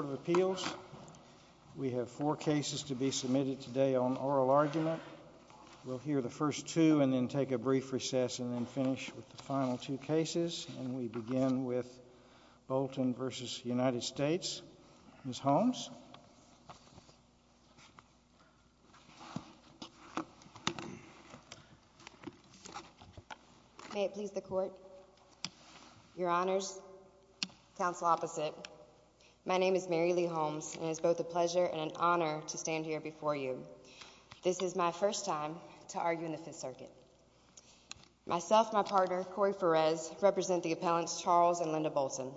Court of Appeals. We have four cases to be submitted today on oral argument. We'll hear the first two and then take a brief recess and then finish with the final two cases. And we begin with Bolton v. United States. Ms. Holmes? May it please the Court, Your Honors, Counsel Opposite, my name is Mary Lee Holmes and it's both a pleasure and an honor to stand here before you. This is my first time to argue in the Fifth Circuit. Myself and my partner, Corey Perez, represent the appellants Charles and Linda Bolton.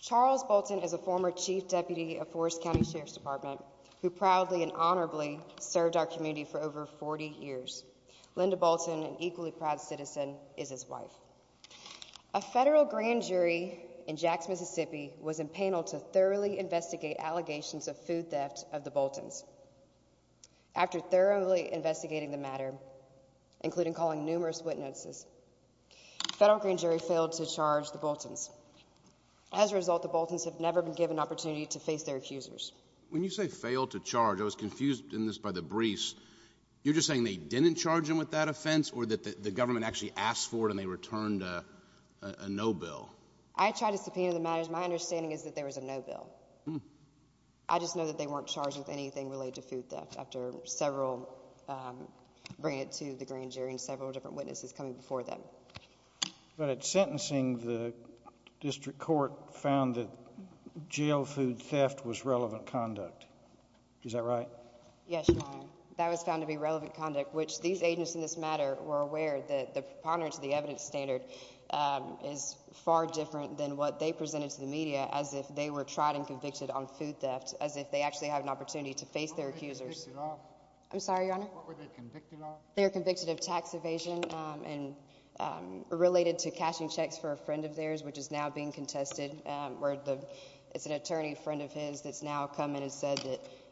Charles Bolton is a former Chief Deputy of Forest County Sheriff's Department who proudly and honorably served our community for over 40 years. Linda Bolton, an equally proud citizen, is his wife. A federal grand jury in Jax, Mississippi, was empaneled to thoroughly investigate allegations of food theft of the Boltons. After thoroughly investigating the matter, including calling numerous witnesses, the federal grand jury failed to charge the Boltons. As a result, the Boltons have never been given an opportunity to face their accusers. When you say failed to charge, I was confused in this by the briefs. You're just saying they didn't charge them with that offense or that the government actually asked for it and they returned a no bill? I tried to subpoena the matters. My understanding is that there was a no bill. I just know that they weren't charged with anything related to food theft after several, bringing it to the grand jury and several different witnesses coming before them. But at sentencing, the district court found that jail food theft was relevant conduct. Is that right? Yes, Your Honor. That was found to be relevant conduct, which these agents in this matter were aware that the preponderance of the evidence standard is far different than what they presented to the media as if they were tried and convicted on food theft, as if they actually had an opportunity to face their accusers. What were they convicted of? I'm sorry, Your Honor? What were they convicted of? They were convicted of tax evasion and related to cashing checks for a friend of theirs, which is now being contested, where it's an attorney friend of his that's now come in and said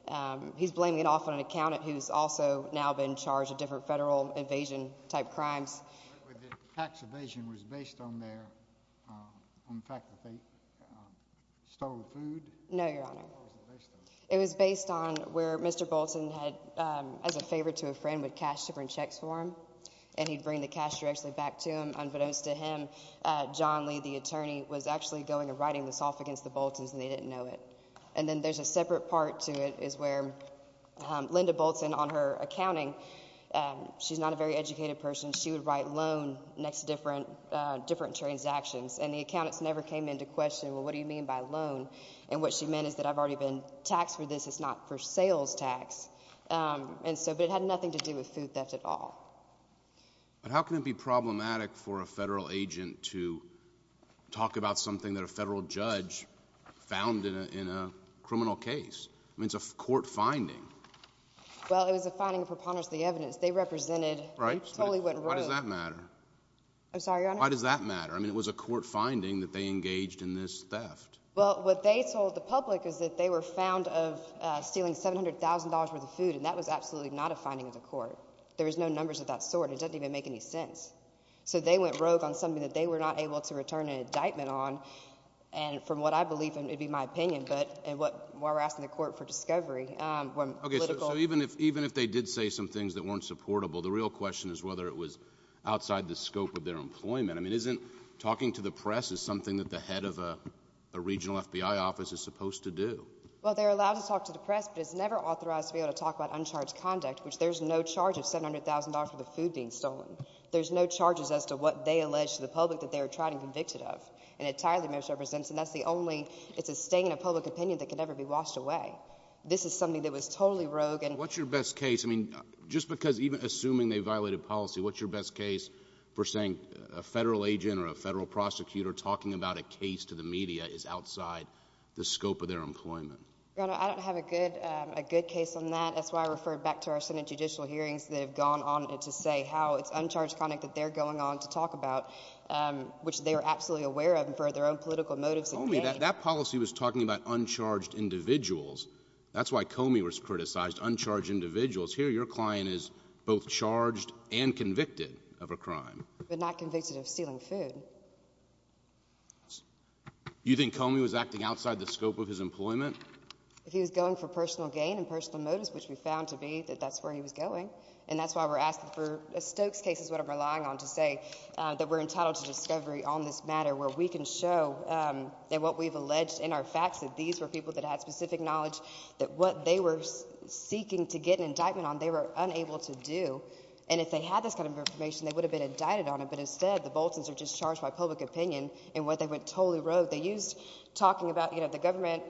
that he's blaming it off on an accountant who's also now been charged with different federal invasion type crimes. The tax evasion was based on their, on the fact that they stole food? No, Your Honor. What was it based on? It was based on where Mr. Bolton had, as a favor to a friend, would cash different checks for him, and he'd bring the cash directly back to him. Unbeknownst to him, John Lee, the attorney, was actually going and writing this off against the Boltons, and they didn't know it. And then there's a separate part to it is where Linda Bolton, on her accounting, she's not a very educated person. She would write loan next to different transactions, and the accountants never came into question, well, what do you mean by loan? And what she meant is that I've already been taxed for this. It's not for sales tax. And so, but it had nothing to do with food theft at all. But how can it be problematic for a federal agent to talk about something that a federal judge found in a criminal case? I mean, it's a court finding. Well, it was a finding of preponderance of the evidence. They represented. Right. Totally went rogue. Why does that matter? I'm sorry, Your Honor? Why does that matter? I mean, it was a court finding that they engaged in this theft. Well, what they told the public is that they were found of stealing $700,000 worth of food, and that was absolutely not a finding of the court. There was no numbers of that sort. It doesn't even make any sense. So they went rogue on something that they were not able to return an indictment on, and from what I believe, and it would be my opinion, but while we're asking the court for discovery. Okay, so even if they did say some things that weren't supportable, the real question is whether it was outside the scope of their employment. I mean, isn't talking to the press is something that the head of a regional FBI office is supposed to do? Well, they're allowed to talk to the press, but it's never authorized to be able to talk about uncharged conduct, which there's no charge of $700,000 for the food being stolen. There's no charges as to what they alleged to the public that they were tried and convicted of. And it entirely misrepresents, and that's the only – it's a stain of public opinion that can never be washed away. This is something that was totally rogue. What's your best case? I mean, just because even assuming they violated policy, what's your best case for saying a federal agent or a federal prosecutor talking about a case to the media is outside the scope of their employment? Your Honor, I don't have a good case on that. That's why I referred back to our Senate judicial hearings. They've gone on to say how it's uncharged conduct that they're going on to talk about, which they were absolutely aware of for their own political motives. Comey, that policy was talking about uncharged individuals. That's why Comey was criticized, uncharged individuals. Here, your client is both charged and convicted of a crime. But not convicted of stealing food. You think Comey was acting outside the scope of his employment? He was going for personal gain and personal motives, which we found to be that that's where he was going. And that's why we're asking for a Stokes case is what I'm relying on to say that we're entitled to discovery on this matter where we can show that what we've alleged in our facts that these were people that had specific knowledge that what they were seeking to get an indictment on they were unable to do. And if they had this kind of information, they would have been indicted on it. But instead, the Boltons are just charged by public opinion in what they went totally rogue. So what they used talking about, you know, the government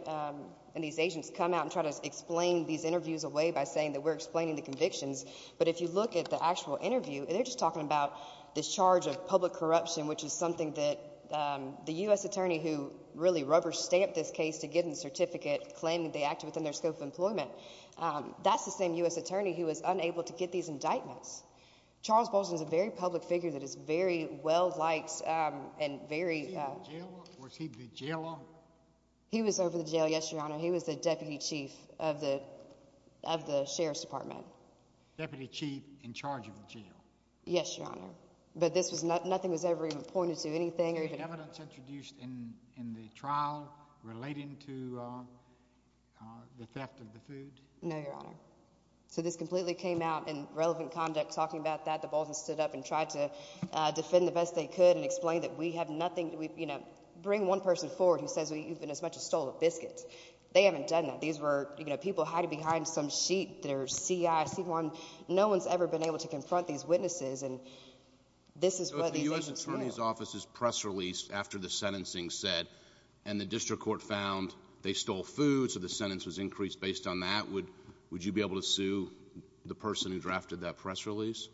and these agents come out and try to explain these interviews away by saying that we're explaining the convictions. But if you look at the actual interview, they're just talking about this charge of public corruption, which is something that the U.S. attorney who really rubber stamped this case to get a certificate claiming they acted within their scope of employment. That's the same U.S. attorney who was unable to get these indictments. Charles Bolton is a very public figure that is very well liked and very. Was he the jailer? He was over the jail. Yes, your honor. He was the deputy chief of the of the sheriff's department. Deputy chief in charge of the jail. Yes, your honor. But this was not nothing was ever even pointed to anything or even evidence introduced in the trial relating to the theft of the food. No, your honor. So this completely came out in relevant conduct. Talking about that, the Baltans stood up and tried to defend the best they could and explain that we have nothing. We bring one person forward who says we've been as much as stole a biscuit. They haven't done that. These were people hiding behind some sheet. There's CIC one. No one's ever been able to confront these witnesses. And this is the U.S. attorney's office's press release after the sentencing said and the district court found they stole food. So the sentence was increased based on that. Would would you be able to sue the person who drafted that press release?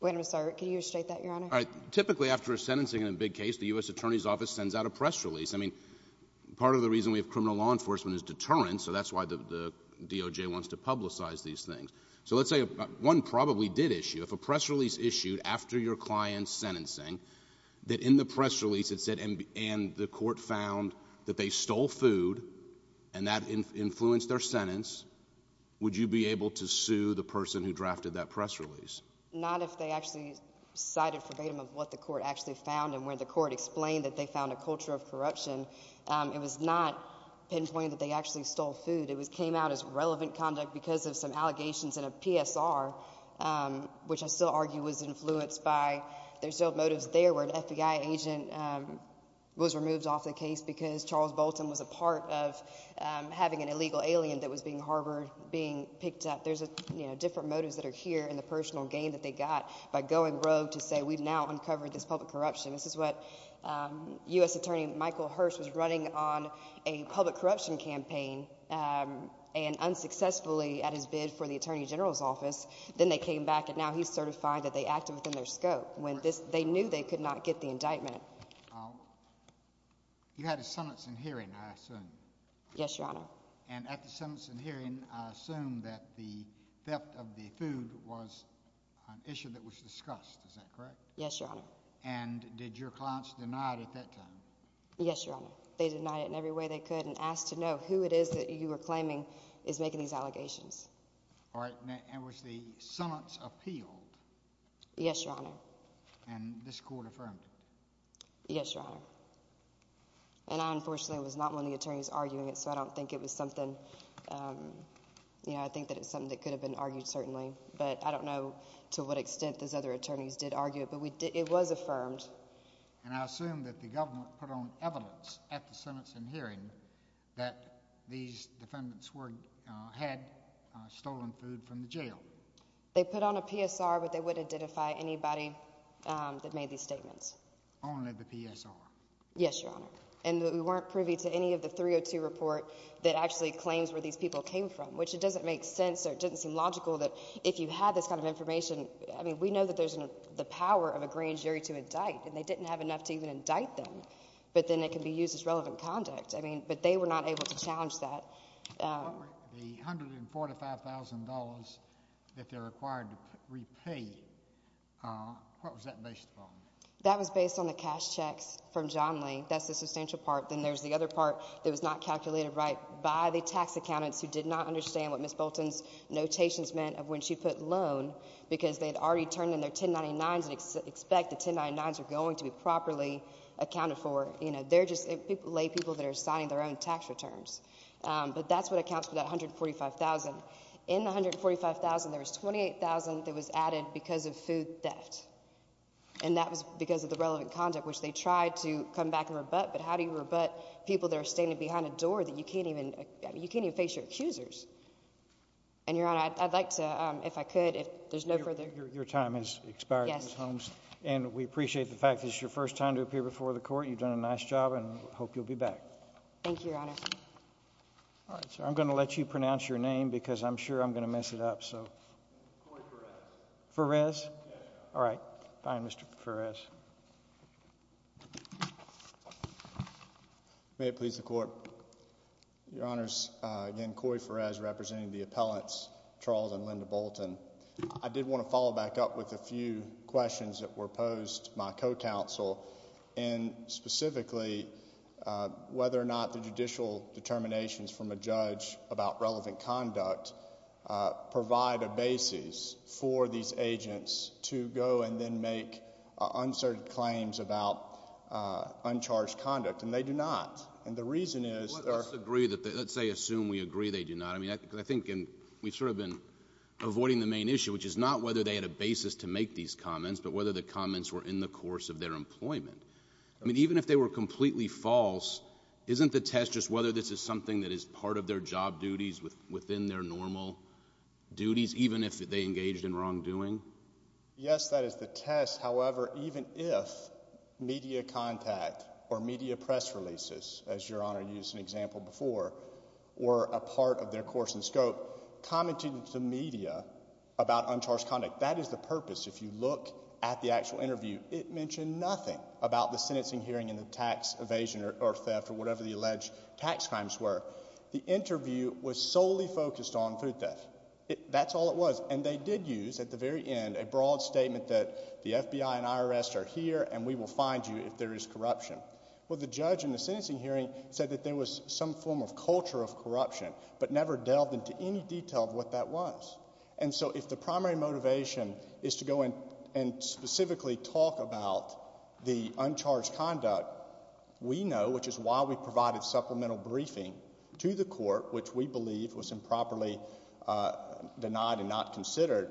When I'm sorry, can you state that, your honor? Typically, after a sentencing in a big case, the U.S. attorney's office sends out a press release. I mean, part of the reason we have criminal law enforcement is deterrence. So that's why the DOJ wants to publicize these things. So let's say one probably did issue if a press release issued after your client's sentencing that in the press release, it said. And the court found that they stole food and that influenced their sentence. Would you be able to sue the person who drafted that press release? Not if they actually cited verbatim of what the court actually found and where the court explained that they found a culture of corruption. It was not pinpointed that they actually stole food. It was came out as relevant conduct because of some allegations in a PSR, which I still argue was influenced by their motives. There were FBI agent was removed off the case because Charles Bolton was a part of having an illegal alien that was being harbored, being picked up. There's a different motives that are here in the personal game that they got by going rogue to say we've now uncovered this public corruption. This is what U.S. attorney Michael Hirsch was running on a public corruption campaign and unsuccessfully at his bid for the attorney general's office. Then they came back and now he's certified that they acted within their scope when they knew they could not get the indictment. You had a sentencing hearing, I assume. Yes, Your Honor. And at the sentencing hearing, I assume that the theft of the food was an issue that was discussed. Is that correct? Yes, Your Honor. And did your clients deny it at that time? Yes, Your Honor. They denied it in every way they could and asked to know who it is that you were claiming is making these allegations. All right. Now, was the sentence appealed? Yes, Your Honor. And this court affirmed it? Yes, Your Honor. And I, unfortunately, was not one of the attorneys arguing it, so I don't think it was something, you know, I think that it's something that could have been argued, certainly. But I don't know to what extent those other attorneys did argue it, but it was affirmed. And I assume that the government put on evidence at the sentencing hearing that these defendants had stolen food from the jail. They put on a PSR, but they wouldn't identify anybody that made these statements. Only the PSR. Yes, Your Honor. And we weren't privy to any of the 302 report that actually claims where these people came from, which it doesn't make sense or it doesn't seem logical that if you had this kind of information, I mean, we know that there's the power of agreeing jury to indict, and they didn't have enough to even indict them. But then it can be used as relevant conduct. I mean, but they were not able to challenge that. The $145,000 that they're required to repay, what was that based upon? That was based on the cash checks from John Lee. That's the substantial part. Then there's the other part that was not calculated right by the tax accountants who did not understand what Ms. Bolton's notations meant of when she put loan because they had already turned in their 1099s and expect the 1099s are going to be properly accounted for. They're just lay people that are signing their own tax returns. But that's what accounts for that $145,000. In the $145,000, there was $28,000 that was added because of food theft, and that was because of the relevant conduct, which they tried to come back and rebut. But how do you rebut people that are standing behind a door that you can't even face your accusers? And, Your Honor, I'd like to, if I could, if there's no further— Your time has expired, Ms. Holmes. Yes. And we appreciate the fact that it's your first time to appear before the court. You've done a nice job and hope you'll be back. Thank you, Your Honor. All right, sir. I'm going to let you pronounce your name because I'm sure I'm going to mess it up, so. Corey Perez. Perez? Yes, Your Honor. All right. Bye, Mr. Perez. May it please the court. Your Honors, again, Corey Perez representing the appellants, Charles and Linda Bolton. I did want to follow back up with a few questions that were posed to my co-counsel, and specifically whether or not the judicial determinations from a judge about relevant conduct provide a basis for these agents to go and then make uncertain claims about uncharged conduct. And they do not. And the reason is— Let's agree, let's say assume we agree they do not. We've sort of been avoiding the main issue, which is not whether they had a basis to make these comments, but whether the comments were in the course of their employment. I mean, even if they were completely false, isn't the test just whether this is something that is part of their job duties within their normal duties, even if they engaged in wrongdoing? Yes, that is the test. However, even if media contact or media press releases, as Your Honor used an example before, were a part of their course and scope, commenting to the media about uncharged conduct, that is the purpose. If you look at the actual interview, it mentioned nothing about the sentencing hearing and the tax evasion or theft or whatever the alleged tax crimes were. The interview was solely focused on food theft. That's all it was. And they did use at the very end a broad statement that the FBI and IRS are here and we will find you if there is corruption. Well, the judge in the sentencing hearing said that there was some form of culture of corruption but never delved into any detail of what that was. And so if the primary motivation is to go in and specifically talk about the uncharged conduct, we know, which is why we provided supplemental briefing to the court, which we believe was improperly denied and not considered,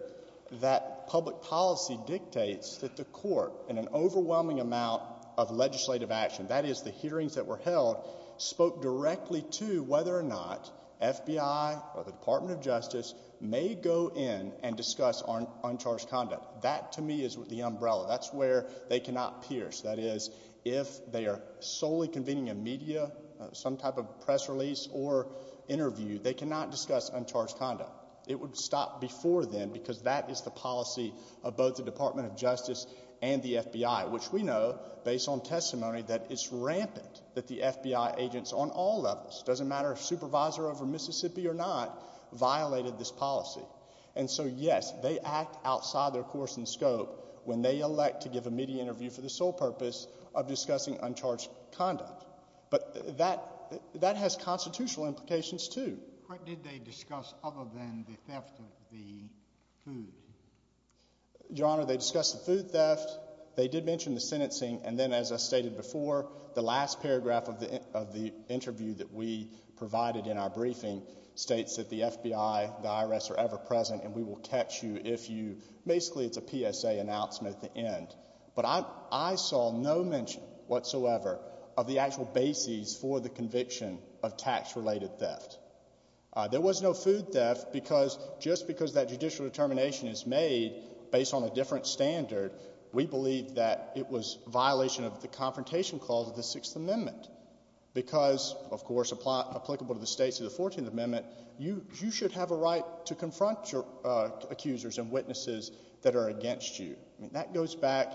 that public policy dictates that the court, in an overwhelming amount of legislative action, that is the hearings that were held, spoke directly to whether or not FBI or the Department of Justice may go in and discuss uncharged conduct. That, to me, is the umbrella. That's where they cannot pierce. That is, if they are solely convening a media, some type of press release or interview, they cannot discuss uncharged conduct. It would stop before then because that is the policy of both the Department of Justice and the FBI, which we know, based on testimony, that it's rampant that the FBI agents on all levels, doesn't matter if supervisor over Mississippi or not, violated this policy. And so, yes, they act outside their course and scope when they elect to give a media interview for the sole purpose of discussing uncharged conduct. But that has constitutional implications, too. What did they discuss other than the theft of the food? Your Honor, they discussed the food theft. They did mention the sentencing. And then, as I stated before, the last paragraph of the interview that we provided in our briefing states that the FBI, the IRS are ever present and we will catch you if you – basically it's a PSA announcement at the end. But I saw no mention whatsoever of the actual basis for the conviction of tax-related theft. There was no food theft because just because that judicial determination is made based on a different standard, we believe that it was violation of the confrontation clause of the Sixth Amendment. Because, of course, applicable to the states of the Fourteenth Amendment, you should have a right to confront your accusers and witnesses that are against you. I mean, that goes back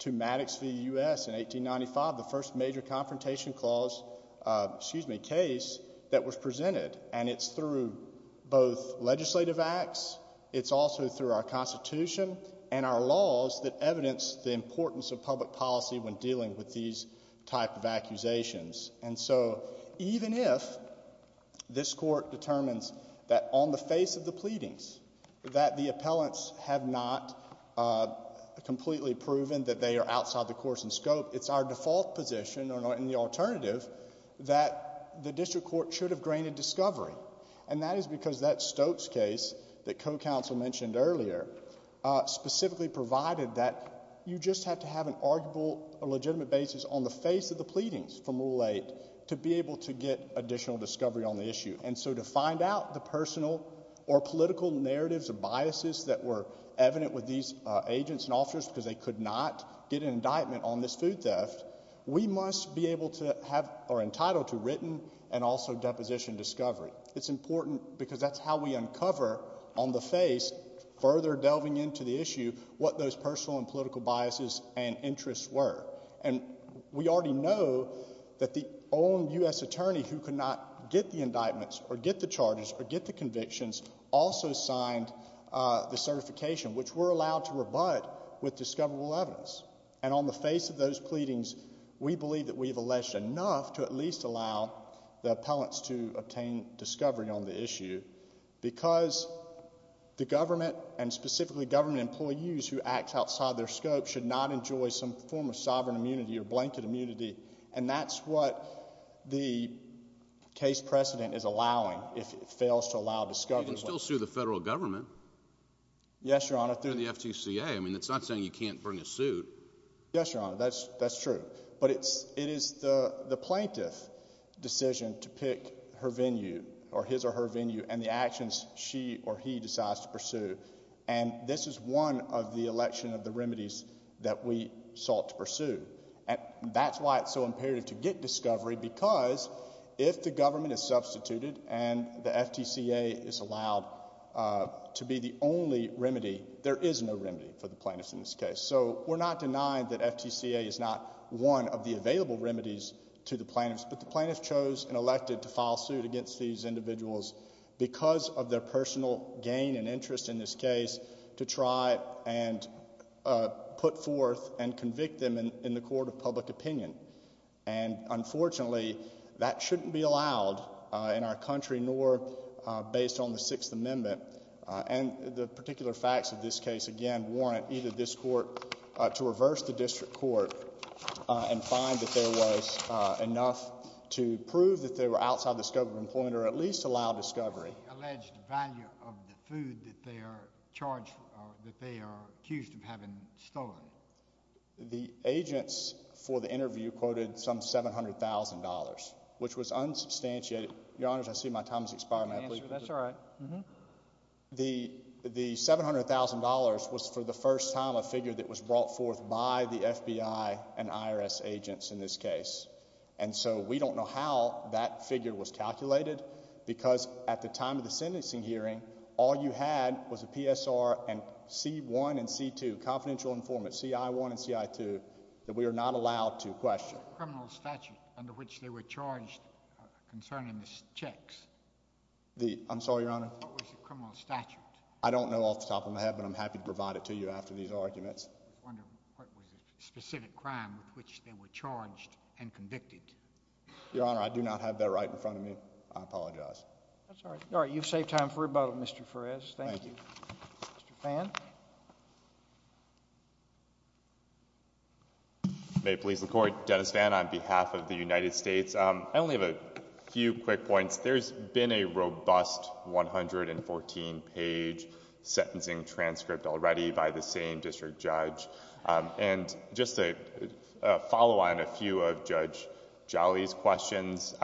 to Maddox v. U.S. in 1895, the first major confrontation clause – excuse me – case that was presented. And it's through both legislative acts. It's also through our Constitution and our laws that evidence the importance of public policy when dealing with these type of accusations. And so even if this Court determines that on the face of the pleadings that the appellants have not completely proven that they are outside the course and scope, it's our default position and the alternative that the district court should have grained a discovery. And that is because that Stokes case that co-counsel mentioned earlier specifically provided that you just have to have an arguable or legitimate basis on the face of the pleadings from Rule 8 to be able to get additional discovery on the issue. And so to find out the personal or political narratives or biases that were evident with these agents and officers because they could not get an indictment on this food theft, we must be able to have – or entitled to written and also deposition discovery. It's important because that's how we uncover on the face, further delving into the issue, what those personal and political biases and interests were. And we already know that the own U.S. attorney who could not get the indictments or get the charges or get the convictions also signed the certification, which we're allowed to rebut with discoverable evidence. And on the face of those pleadings, we believe that we've alleged enough to at least allow the appellants to obtain discovery on the issue because the government and specifically government employees who act outside their scope should not enjoy some form of sovereign immunity or blanket immunity, and that's what the case precedent is allowing if it fails to allow discovery. You can still sue the federal government. Yes, Your Honor. I mean, it's not saying you can't bring a suit. Yes, Your Honor, that's true. But it is the plaintiff's decision to pick her venue or his or her venue and the actions she or he decides to pursue. And this is one of the election of the remedies that we sought to pursue. And that's why it's so imperative to get discovery because if the government is substituted and the FTCA is allowed to be the only remedy, there is no remedy for the plaintiffs in this case. So we're not denying that FTCA is not one of the available remedies to the plaintiffs, but the plaintiffs chose and elected to file suit against these individuals because of their personal gain and interest in this case to try and put forth and convict them in the court of public opinion. And unfortunately, that shouldn't be allowed in our country nor based on the Sixth Amendment. And the particular facts of this case, again, warrant either this court to reverse the district court and find that there was enough to prove that they were outside the scope of employment or at least allow discovery. The alleged value of the food that they are charged or that they are accused of having stolen. The agents for the interview quoted some $700,000, which was unsubstantiated. Your Honor, I see my time has expired. That's all right. The $700,000 was for the first time a figure that was brought forth by the FBI and IRS agents in this case. And so we don't know how that figure was calculated because at the time of the sentencing hearing, all you had was a PSR and C-1 and C-2, confidential informant, CI-1 and CI-2, that we are not allowed to question. What was the criminal statute under which they were charged concerning the checks? I'm sorry, Your Honor? What was the criminal statute? I don't know off the top of my head, but I'm happy to provide it to you after these arguments. I just wonder what was the specific crime with which they were charged and convicted. Your Honor, I do not have that right in front of me. I apologize. That's all right. You've saved time for rebuttal, Mr. Ferrez. Thank you. Mr. Phan. May it please the Court. Dennis Phan on behalf of the United States. I only have a few quick points. There's been a robust 114-page sentencing transcript already by the same district judge. And just to follow on a few of Judge Jolly's questions,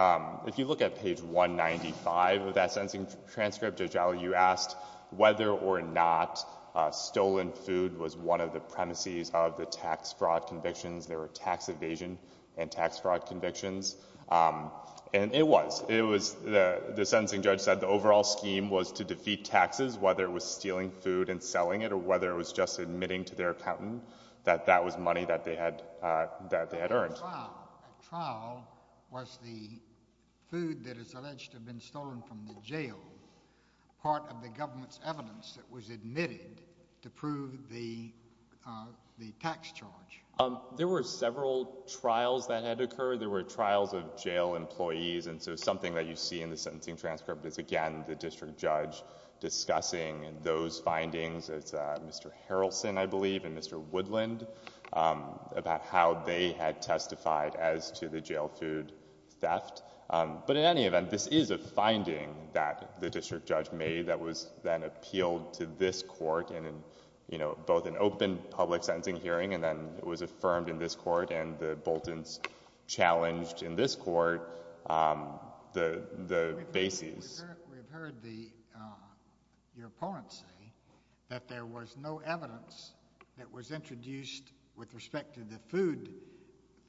if you look at page 195 of that sentencing transcript, Judge Jolly, you asked whether or not stolen food was one of the premises of the tax fraud convictions. There were tax evasion and tax fraud convictions. And it was. The sentencing judge said the overall scheme was to defeat taxes, whether it was stealing food and selling it or whether it was just admitting to their accountant that that was money that they had earned. At trial, was the food that is alleged to have been stolen from the jail part of the government's evidence that was admitted to prove the tax charge? There were several trials that had occurred. There were trials of jail employees. And so something that you see in the sentencing transcript is, again, the district judge discussing those findings. It's Mr. Harrelson, I believe, and Mr. Woodland about how they had testified as to the jail food theft. But in any event, this is a finding that the district judge made that was then appealed to this court in both an open public sentencing hearing and then it was affirmed in this court and the Boltons challenged in this court the bases. We've heard the your opponents say that there was no evidence that was introduced with respect to the food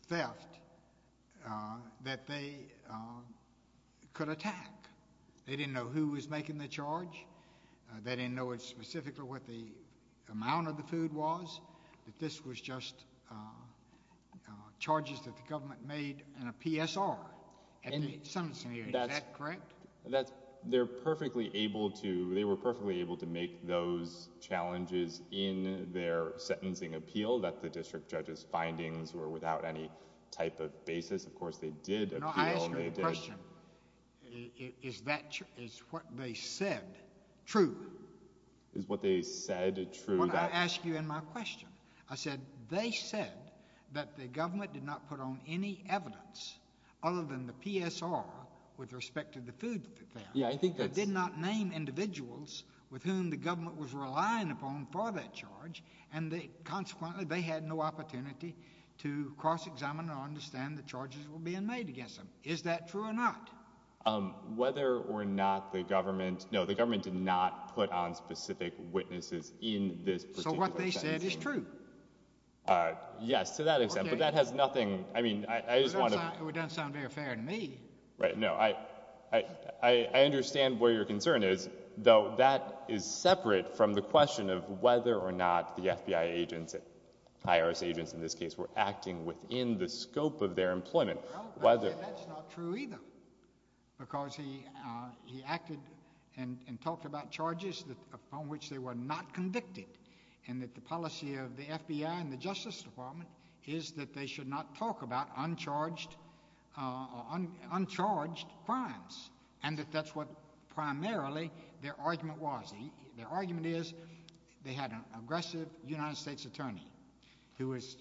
theft that they could attack. They didn't know who was making the charge. They didn't know it specifically what the amount of the food was, that this was just charges that the government made in a PSR. And that's correct. That's they're perfectly able to. They were perfectly able to make those challenges in their sentencing appeal that the district judge's findings were without any type of basis. Of course, they did. They did. Is that is what they said? True. Is what they said. True. I asked you in my question. I said they said that the government did not put on any evidence other than the PSR with respect to the food. Yeah, I think that did not name individuals with whom the government was relying upon for that charge. And consequently, they had no opportunity to cross examine or understand the charges were being made against them. Is that true or not? Whether or not the government, no, the government did not put on specific witnesses in this particular sentencing. So what they said is true. Yes, to that extent. But that has nothing, I mean, I just want to. It doesn't sound very fair to me. Right. No, I understand where your concern is, though that is separate from the question of whether or not the FBI agents, IRS agents in this case, were acting within the scope of their employment. That's not true either. Because he acted and talked about charges on which they were not convicted. And that the policy of the FBI and the Justice Department is that they should not talk about uncharged crimes. And that that's what primarily their argument was. Their argument is they had an aggressive United States attorney who was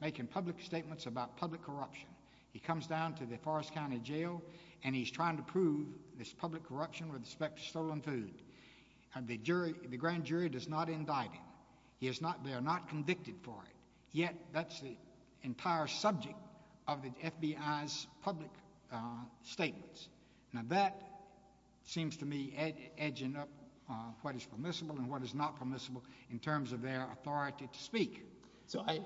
making public statements about public corruption. He comes down to the Forrest County Jail and he's trying to prove this public corruption with respect to stolen food. And the jury, the grand jury does not indict him. He is not, they are not convicted for it. Yet that's the entire subject of the FBI's public statements. Now that seems to me edging up what is permissible and what is not permissible in terms of their authority to speak. So I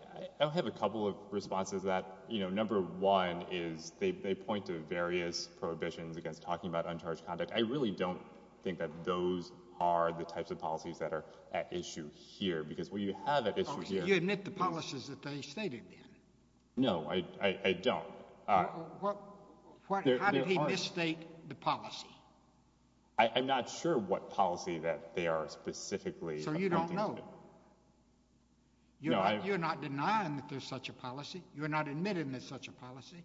have a couple of responses to that. You know, number one is they point to various prohibitions against talking about uncharged conduct. I really don't think that those are the types of policies that are at issue here. Because what you have at issue here— You admit the policies that they stated then. No, I don't. How did he misstate the policy? I'm not sure what policy that they are specifically— So you don't know. You're not denying that there's such a policy. You're not admitting there's such a policy.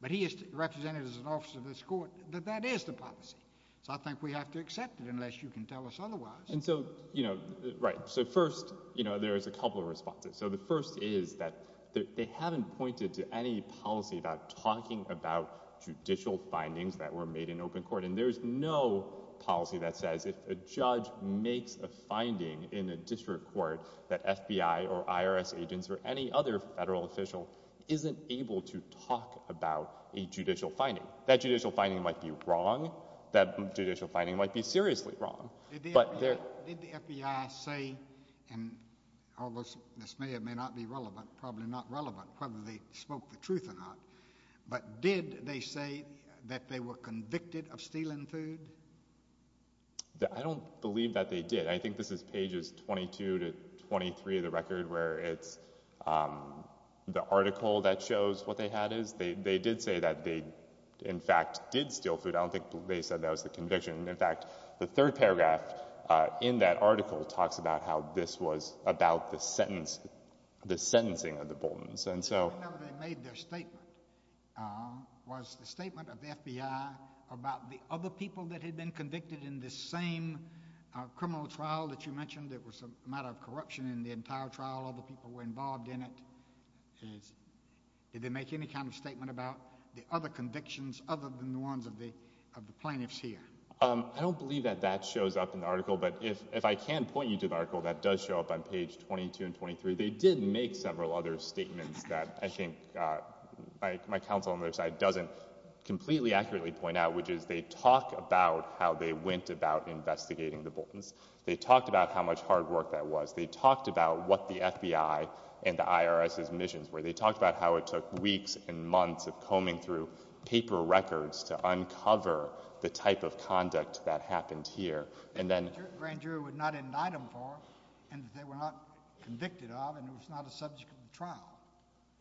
But he has represented as an officer of this court that that is the policy. So I think we have to accept it unless you can tell us otherwise. And so, you know, right. So first, you know, there's a couple of responses. So the first is that they haven't pointed to any policy about talking about judicial findings that were made in open court. And there's no policy that says if a judge makes a finding in a district court that FBI or IRS agents or any other federal official isn't able to talk about a judicial finding. That judicial finding might be wrong. That judicial finding might be seriously wrong. Did the FBI say—and this may or may not be relevant, probably not relevant, whether they spoke the truth or not— but did they say that they were convicted of stealing food? I don't believe that they did. I think this is pages 22 to 23 of the record where it's the article that shows what they had is. They did say that they, in fact, did steal food. I don't think they said that was the conviction. In fact, the third paragraph in that article talks about how this was about the sentencing of the Boltons. I don't know whether they made their statement. Was the statement of the FBI about the other people that had been convicted in this same criminal trial that you mentioned? It was a matter of corruption in the entire trial. Other people were involved in it. Did they make any kind of statement about the other convictions other than the ones of the plaintiffs here? But if I can point you to the article that does show up on page 22 and 23, they did make several other statements that I think my counsel on the other side doesn't completely accurately point out, which is they talk about how they went about investigating the Boltons. They talked about how much hard work that was. They talked about what the FBI and the IRS's missions were. They talked about how it took weeks and months of combing through paper records to uncover the type of conduct that happened here. Grand jury would not indict them for it, and they were not convicted of it, and it was not a subject of the trial.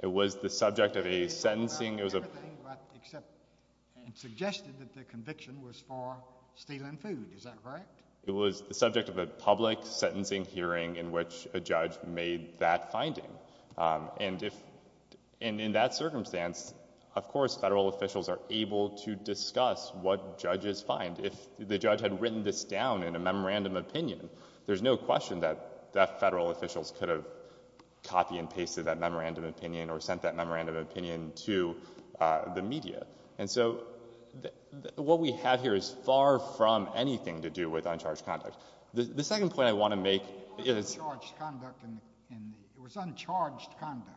It was the subject of a sentencing. Everything but except it suggested that the conviction was for stealing food. Is that correct? It was the subject of a public sentencing hearing in which a judge made that finding. And in that circumstance, of course, Federal officials are able to discuss what judges find. If the judge had written this down in a memorandum of opinion, there's no question that Federal officials could have copied and pasted that memorandum of opinion or sent that memorandum of opinion to the media. And so what we have here is far from anything to do with uncharged conduct. The second point I want to make is— It wasn't uncharged conduct in the—it was uncharged conduct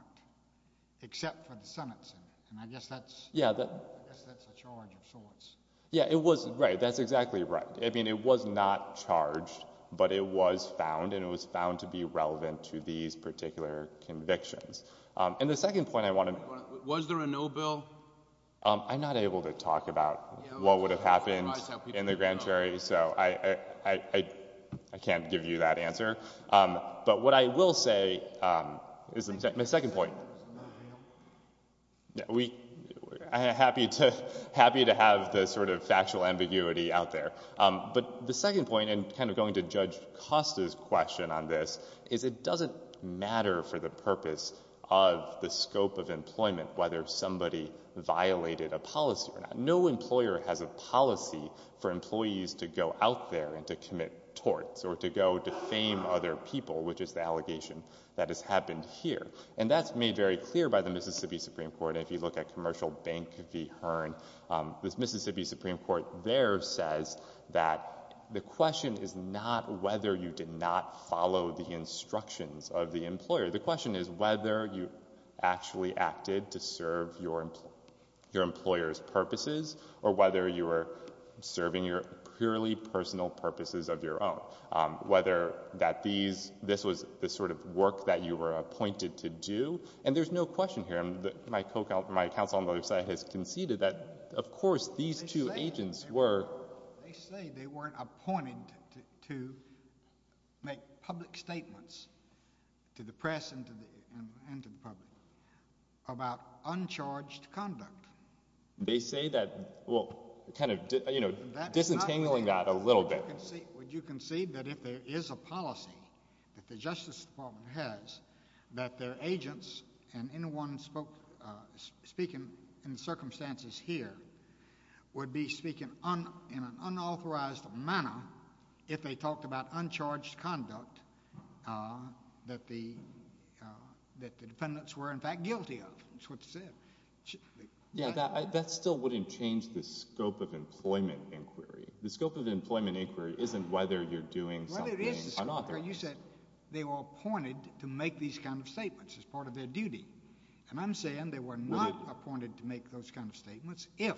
except for the sentencing, and I guess that's— Yeah, that— I guess that's a charge of sorts. Yeah, it was—right, that's exactly right. I mean, it was not charged, but it was found, and it was found to be relevant to these particular convictions. And the second point I want to— Was there a no bill? I'm not able to talk about what would have happened in the grand jury, so I can't give you that answer. But what I will say is—my second point— Was there a no bill? I'm happy to have the sort of factual ambiguity out there. But the second point, and kind of going to Judge Costa's question on this, is it doesn't matter for the purpose of the scope of employment whether somebody violated a policy or not. No employer has a policy for employees to go out there and to commit torts or to go defame other people, which is the allegation that has happened here. And that's made very clear by the Mississippi Supreme Court, and if you look at Commercial Bank v. Hearn, this Mississippi Supreme Court there says that the question is not whether you did not follow the instructions of the employer. The question is whether you actually acted to serve your employer's purposes or whether you were serving your purely personal purposes of your own, whether that these—this was the sort of work that you were appointed to do. And there's no question here. My counsel on the other side has conceded that, of course, these two agents were— about uncharged conduct. They say that—well, kind of disentangling that a little bit. Would you concede that if there is a policy that the Justice Department has that their agents and anyone speaking in circumstances here would be speaking in an unauthorized manner if they talked about uncharged conduct that the defendants were, in fact, guilty of? That's what they said. Yeah, that still wouldn't change the scope of employment inquiry. The scope of employment inquiry isn't whether you're doing something unauthorized. You said they were appointed to make these kind of statements as part of their duty. And I'm saying they were not appointed to make those kind of statements if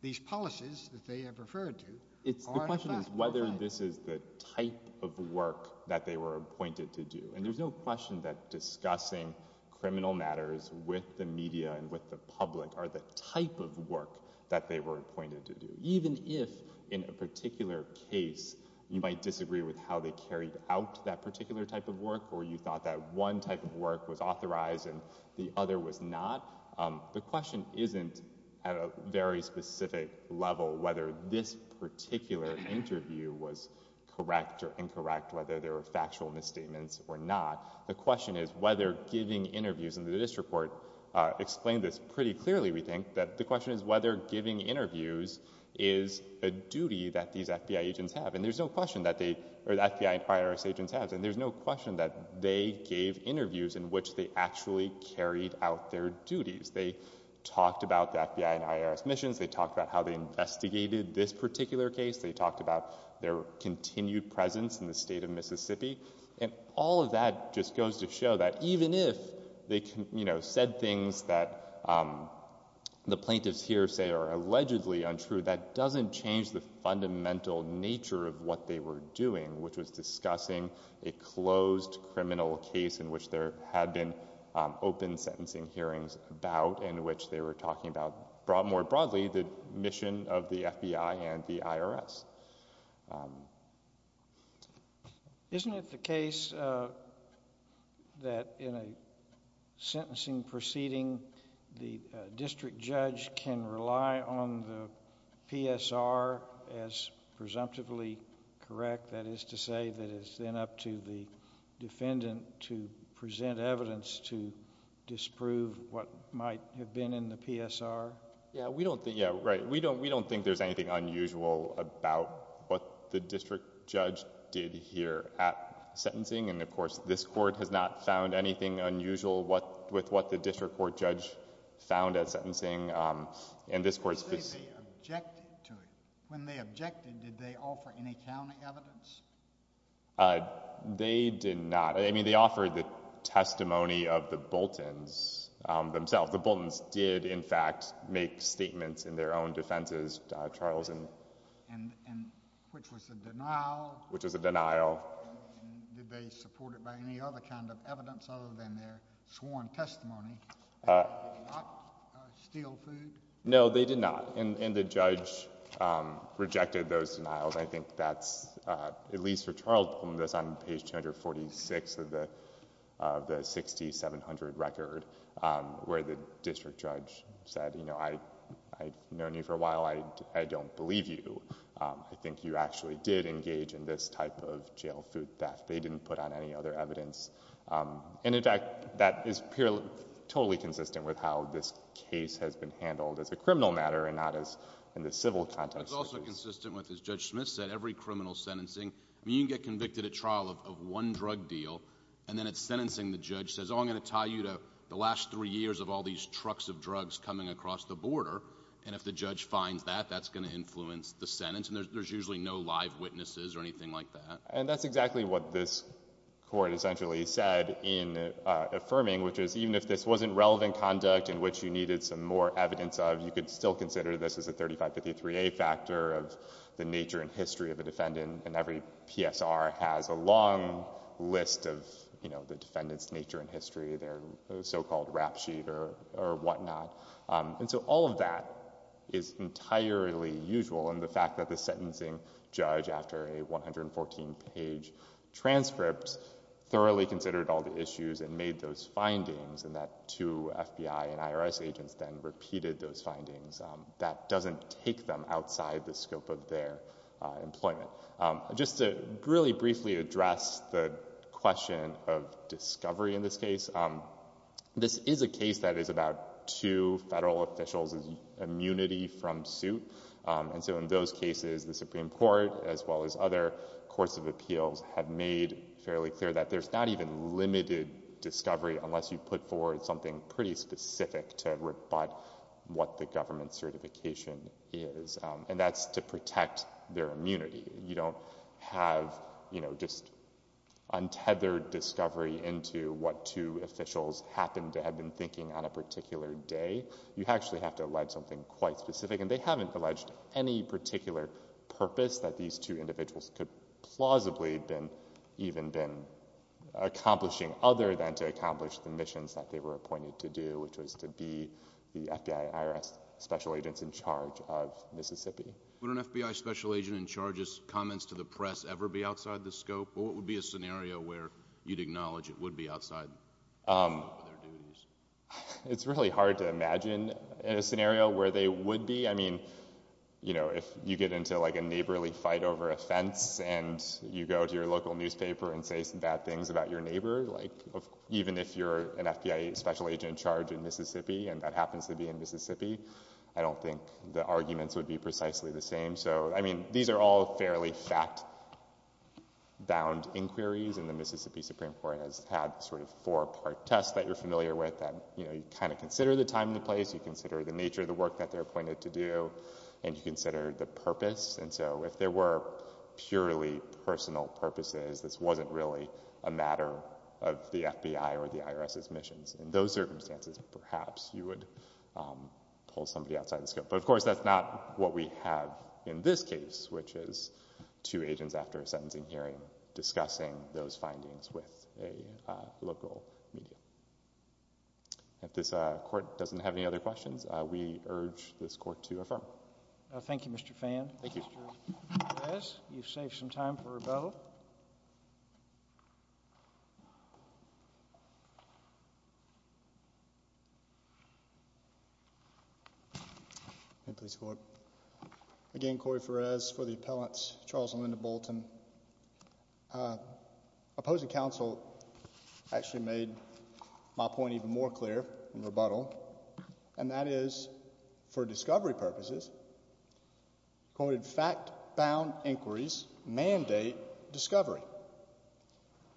these policies that they have referred to are, in fact— The question is whether this is the type of work that they were appointed to do. And there's no question that discussing criminal matters with the media and with the public are the type of work that they were appointed to do, even if in a particular case you might disagree with how they carried out that particular type of work or you thought that one type of work was authorized and the other was not. The question isn't at a very specific level whether this particular interview was correct or incorrect, whether there were factual misstatements or not. The question is whether giving interviews, and the district court explained this pretty clearly, we think, that the question is whether giving interviews is a duty that these FBI agents have. And there's no question that the FBI and IRS agents have. And there's no question that they gave interviews in which they actually carried out their duties. They talked about the FBI and IRS missions. They talked about how they investigated this particular case. They talked about their continued presence in the state of Mississippi. And all of that just goes to show that even if they said things that the plaintiffs here say are allegedly untrue, that doesn't change the fundamental nature of what they were doing, which was discussing a closed criminal case in which there had been open sentencing hearings about in which they were talking about more broadly the mission of the FBI and the IRS. Isn't it the case that in a sentencing proceeding the district judge can rely on the PSR as presumptively correct? That is to say that it's then up to the defendant to present evidence to disprove what might have been in the PSR? Yeah, right. We don't think there's anything unusual about what the district judge did here at sentencing. And, of course, this Court has not found anything unusual with what the district court judge found at sentencing. And this Court's position- When they objected to it, when they objected, did they offer any county evidence? They did not. I mean, they offered the testimony of the Boltons themselves. The Boltons did, in fact, make statements in their own defenses, Charles. And which was a denial? Which was a denial. And did they support it by any other kind of evidence other than their sworn testimony? Did they not steal food? No, they did not. And the judge rejected those denials. I think that's, at least for Charles, on page 246 of the 6700 record, where the district judge said, you know, I've known you for a while. I don't believe you. I think you actually did engage in this type of jail food theft. They didn't put on any other evidence. And, in fact, that is totally consistent with how this case has been handled as a criminal matter and not as in the civil context. It's also consistent with, as Judge Smith said, every criminal sentencing. I mean, you can get convicted at trial of one drug deal, and then at sentencing the judge says, oh, I'm going to tie you to the last three years of all these trucks of drugs coming across the border. And if the judge finds that, that's going to influence the sentence. And there's usually no live witnesses or anything like that. And that's exactly what this court essentially said in affirming, which is even if this wasn't relevant conduct in which you needed some more evidence of, you could still consider this as a 3553A factor of the nature and history of the defendant. And every PSR has a long list of, you know, the defendant's nature and history, their so-called rap sheet or whatnot. And so all of that is entirely usual. And the fact that the sentencing judge, after a 114-page transcript, thoroughly considered all the issues and made those findings, and that two FBI and IRS agents then repeated those findings, that doesn't take them outside the scope of their employment. Just to really briefly address the question of discovery in this case, this is a case that is about two federal officials' immunity from suit. And so in those cases, the Supreme Court, as well as other courts of appeals, have made fairly clear that there's not even limited discovery unless you put forward something pretty specific to rebut what the government certification is. And that's to protect their immunity. You don't have, you know, just untethered discovery into what two officials happened to have been thinking on a particular day. You actually have to allege something quite specific. And they haven't alleged any particular purpose that these two individuals could plausibly have even been accomplishing other than to accomplish the missions that they were appointed to do, which was to be the FBI and IRS special agents in charge of Mississippi. Would an FBI special agent in charge's comments to the press ever be outside the scope? Or what would be a scenario where you'd acknowledge it would be outside the scope of their duties? It's really hard to imagine a scenario where they would be. I mean, you know, if you get into, like, a neighborly fight over a fence and you go to your local newspaper and say some bad things about your neighbor, like, even if you're an FBI special agent in charge in Mississippi, and that happens to be in Mississippi, I don't think the arguments would be precisely the same. So, I mean, these are all fairly fact-bound inquiries. And the Mississippi Supreme Court has had sort of four-part tests that you're familiar with that, you know, you kind of consider the time and place, you consider the nature of the work that they're appointed to do, and you consider the purpose. And so if there were purely personal purposes, this wasn't really a matter of the FBI or the IRS's missions. In those circumstances, perhaps you would pull somebody outside the scope. But, of course, that's not what we have in this case, which is two agents after a sentencing hearing discussing those findings with a local media. If this Court doesn't have any other questions, we urge this Court to affirm. Thank you, Mr. Fan. Thank you. Mr. Perez, you've saved some time for rebuttal. Again, Corey Perez for the appellants, Charles and Linda Bolton. Opposing counsel actually made my point even more clear in rebuttal, and that is, for discovery purposes, quoted fact-bound inquiries mandate discovery.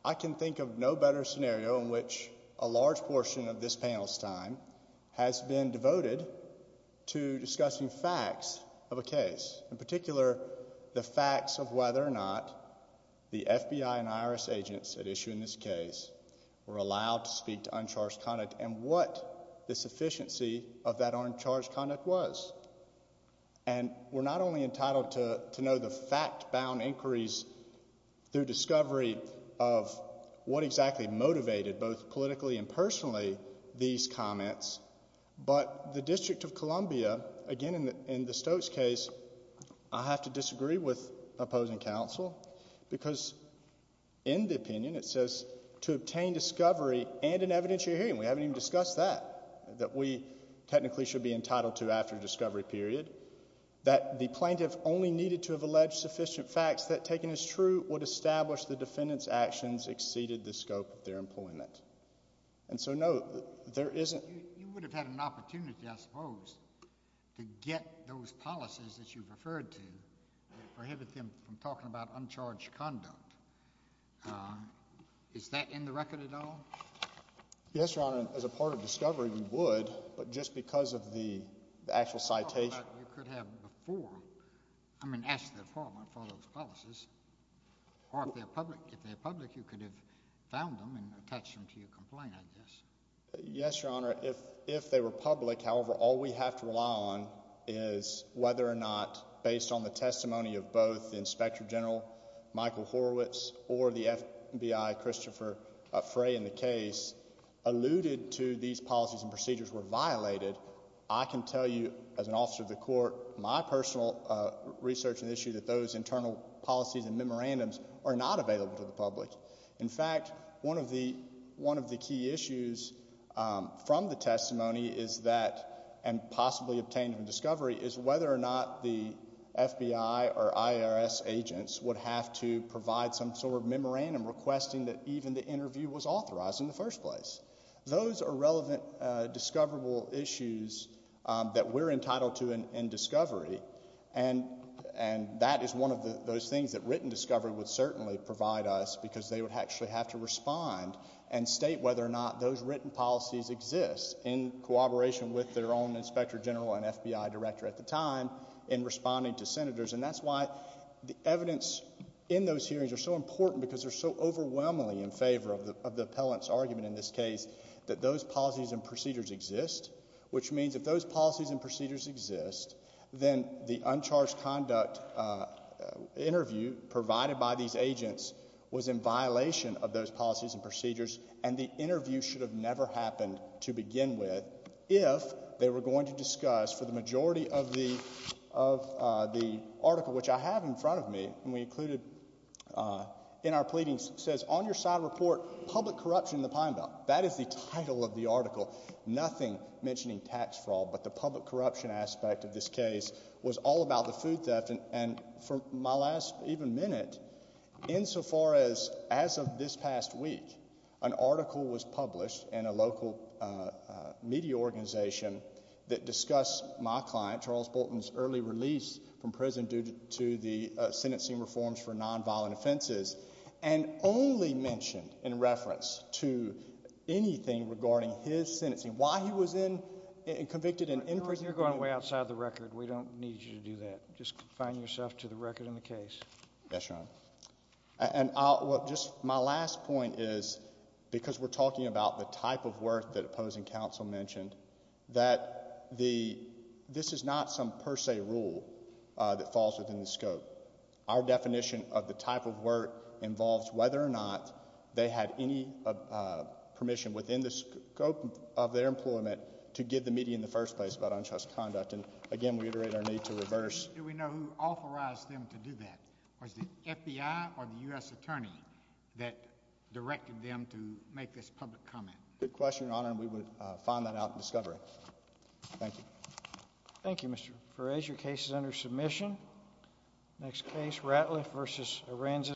I can think of no better scenario in which a large portion of this panel's time has been devoted to discussing facts of a case, in particular, the facts of whether or not the FBI and IRS agents at issue in this case were allowed to speak to uncharged conduct and what the sufficiency of that uncharged conduct was. And we're not only entitled to know the fact-bound inquiries through discovery of what exactly motivated both politically and personally these comments, but the District of Columbia, again, in the Stokes case, I have to disagree with opposing counsel, because in the opinion it says to obtain discovery and an evidentiary hearing. We haven't even discussed that, that we technically should be entitled to after discovery period, that the plaintiff only needed to have alleged sufficient facts that, taken as true, would establish the defendant's actions exceeded the scope of their employment. And so, no, there isn't. You would have had an opportunity, I suppose, to get those policies that you've referred to that prohibited them from talking about uncharged conduct. Is that in the record at all? Yes, Your Honor. As a part of discovery, we would, but just because of the actual citation. You could have before, I mean, asked the Department for those policies. Or if they're public, you could have found them and attached them to your complaint, I guess. Yes, Your Honor. If they were public, however, all we have to rely on is whether or not, based on the testimony of both Inspector General Michael Horowitz or the FBI Christopher Frey in the case, alluded to these policies and procedures were violated, I can tell you as an officer of the court, my personal research and issue that those internal policies and memorandums are not available to the public. In fact, one of the key issues from the testimony is that, and possibly obtained from discovery, is whether or not the FBI or IRS agents would have to provide some sort of memorandum requesting that even the interview was authorized in the first place. Those are relevant discoverable issues that we're entitled to in discovery, and that is one of those things that written discovery would certainly provide us because they would actually have to respond and state whether or not those written policies exist in cooperation with their own inspector general and FBI director at the time in responding to senators. And that's why the evidence in those hearings are so important because they're so overwhelmingly in favor of the appellant's argument in this case that those policies and procedures exist, which means if those policies and procedures exist, then the uncharged conduct interview provided by these agents was in violation of those policies and procedures, and the interview should have never happened to begin with if they were going to discuss, for the majority of the article, which I have in front of me and we included in our pleadings, says, On Your Side Report, Public Corruption in the Pine Belt. That is the title of the article, nothing mentioning tax fraud, but the public corruption aspect of this case was all about the food theft. And for my last even minute, insofar as as of this past week, an article was published in a local media organization that discussed my client, Charles Bolton's early release from prison due to the sentencing reforms for nonviolent offenses, and only mentioned in reference to anything regarding his sentencing, why he was convicted and imprisoned. When you're going way outside the record, we don't need you to do that. Just confine yourself to the record in the case. Yes, Your Honor. And just my last point is because we're talking about the type of work that opposing counsel mentioned, that this is not some per se rule that falls within the scope. Our definition of the type of work involves whether or not they had any permission within the scope of their employment to give the media in the first place about untrusted conduct. And again, we reiterate our need to reverse. Do we know who authorized them to do that? Was it the FBI or the U.S. Attorney that directed them to make this public comment? Good question, Your Honor, and we would find that out in discovery. Thank you. Thank you, Mr. Perez. Your case is under submission. Next case, Ratliff v. Arenzis.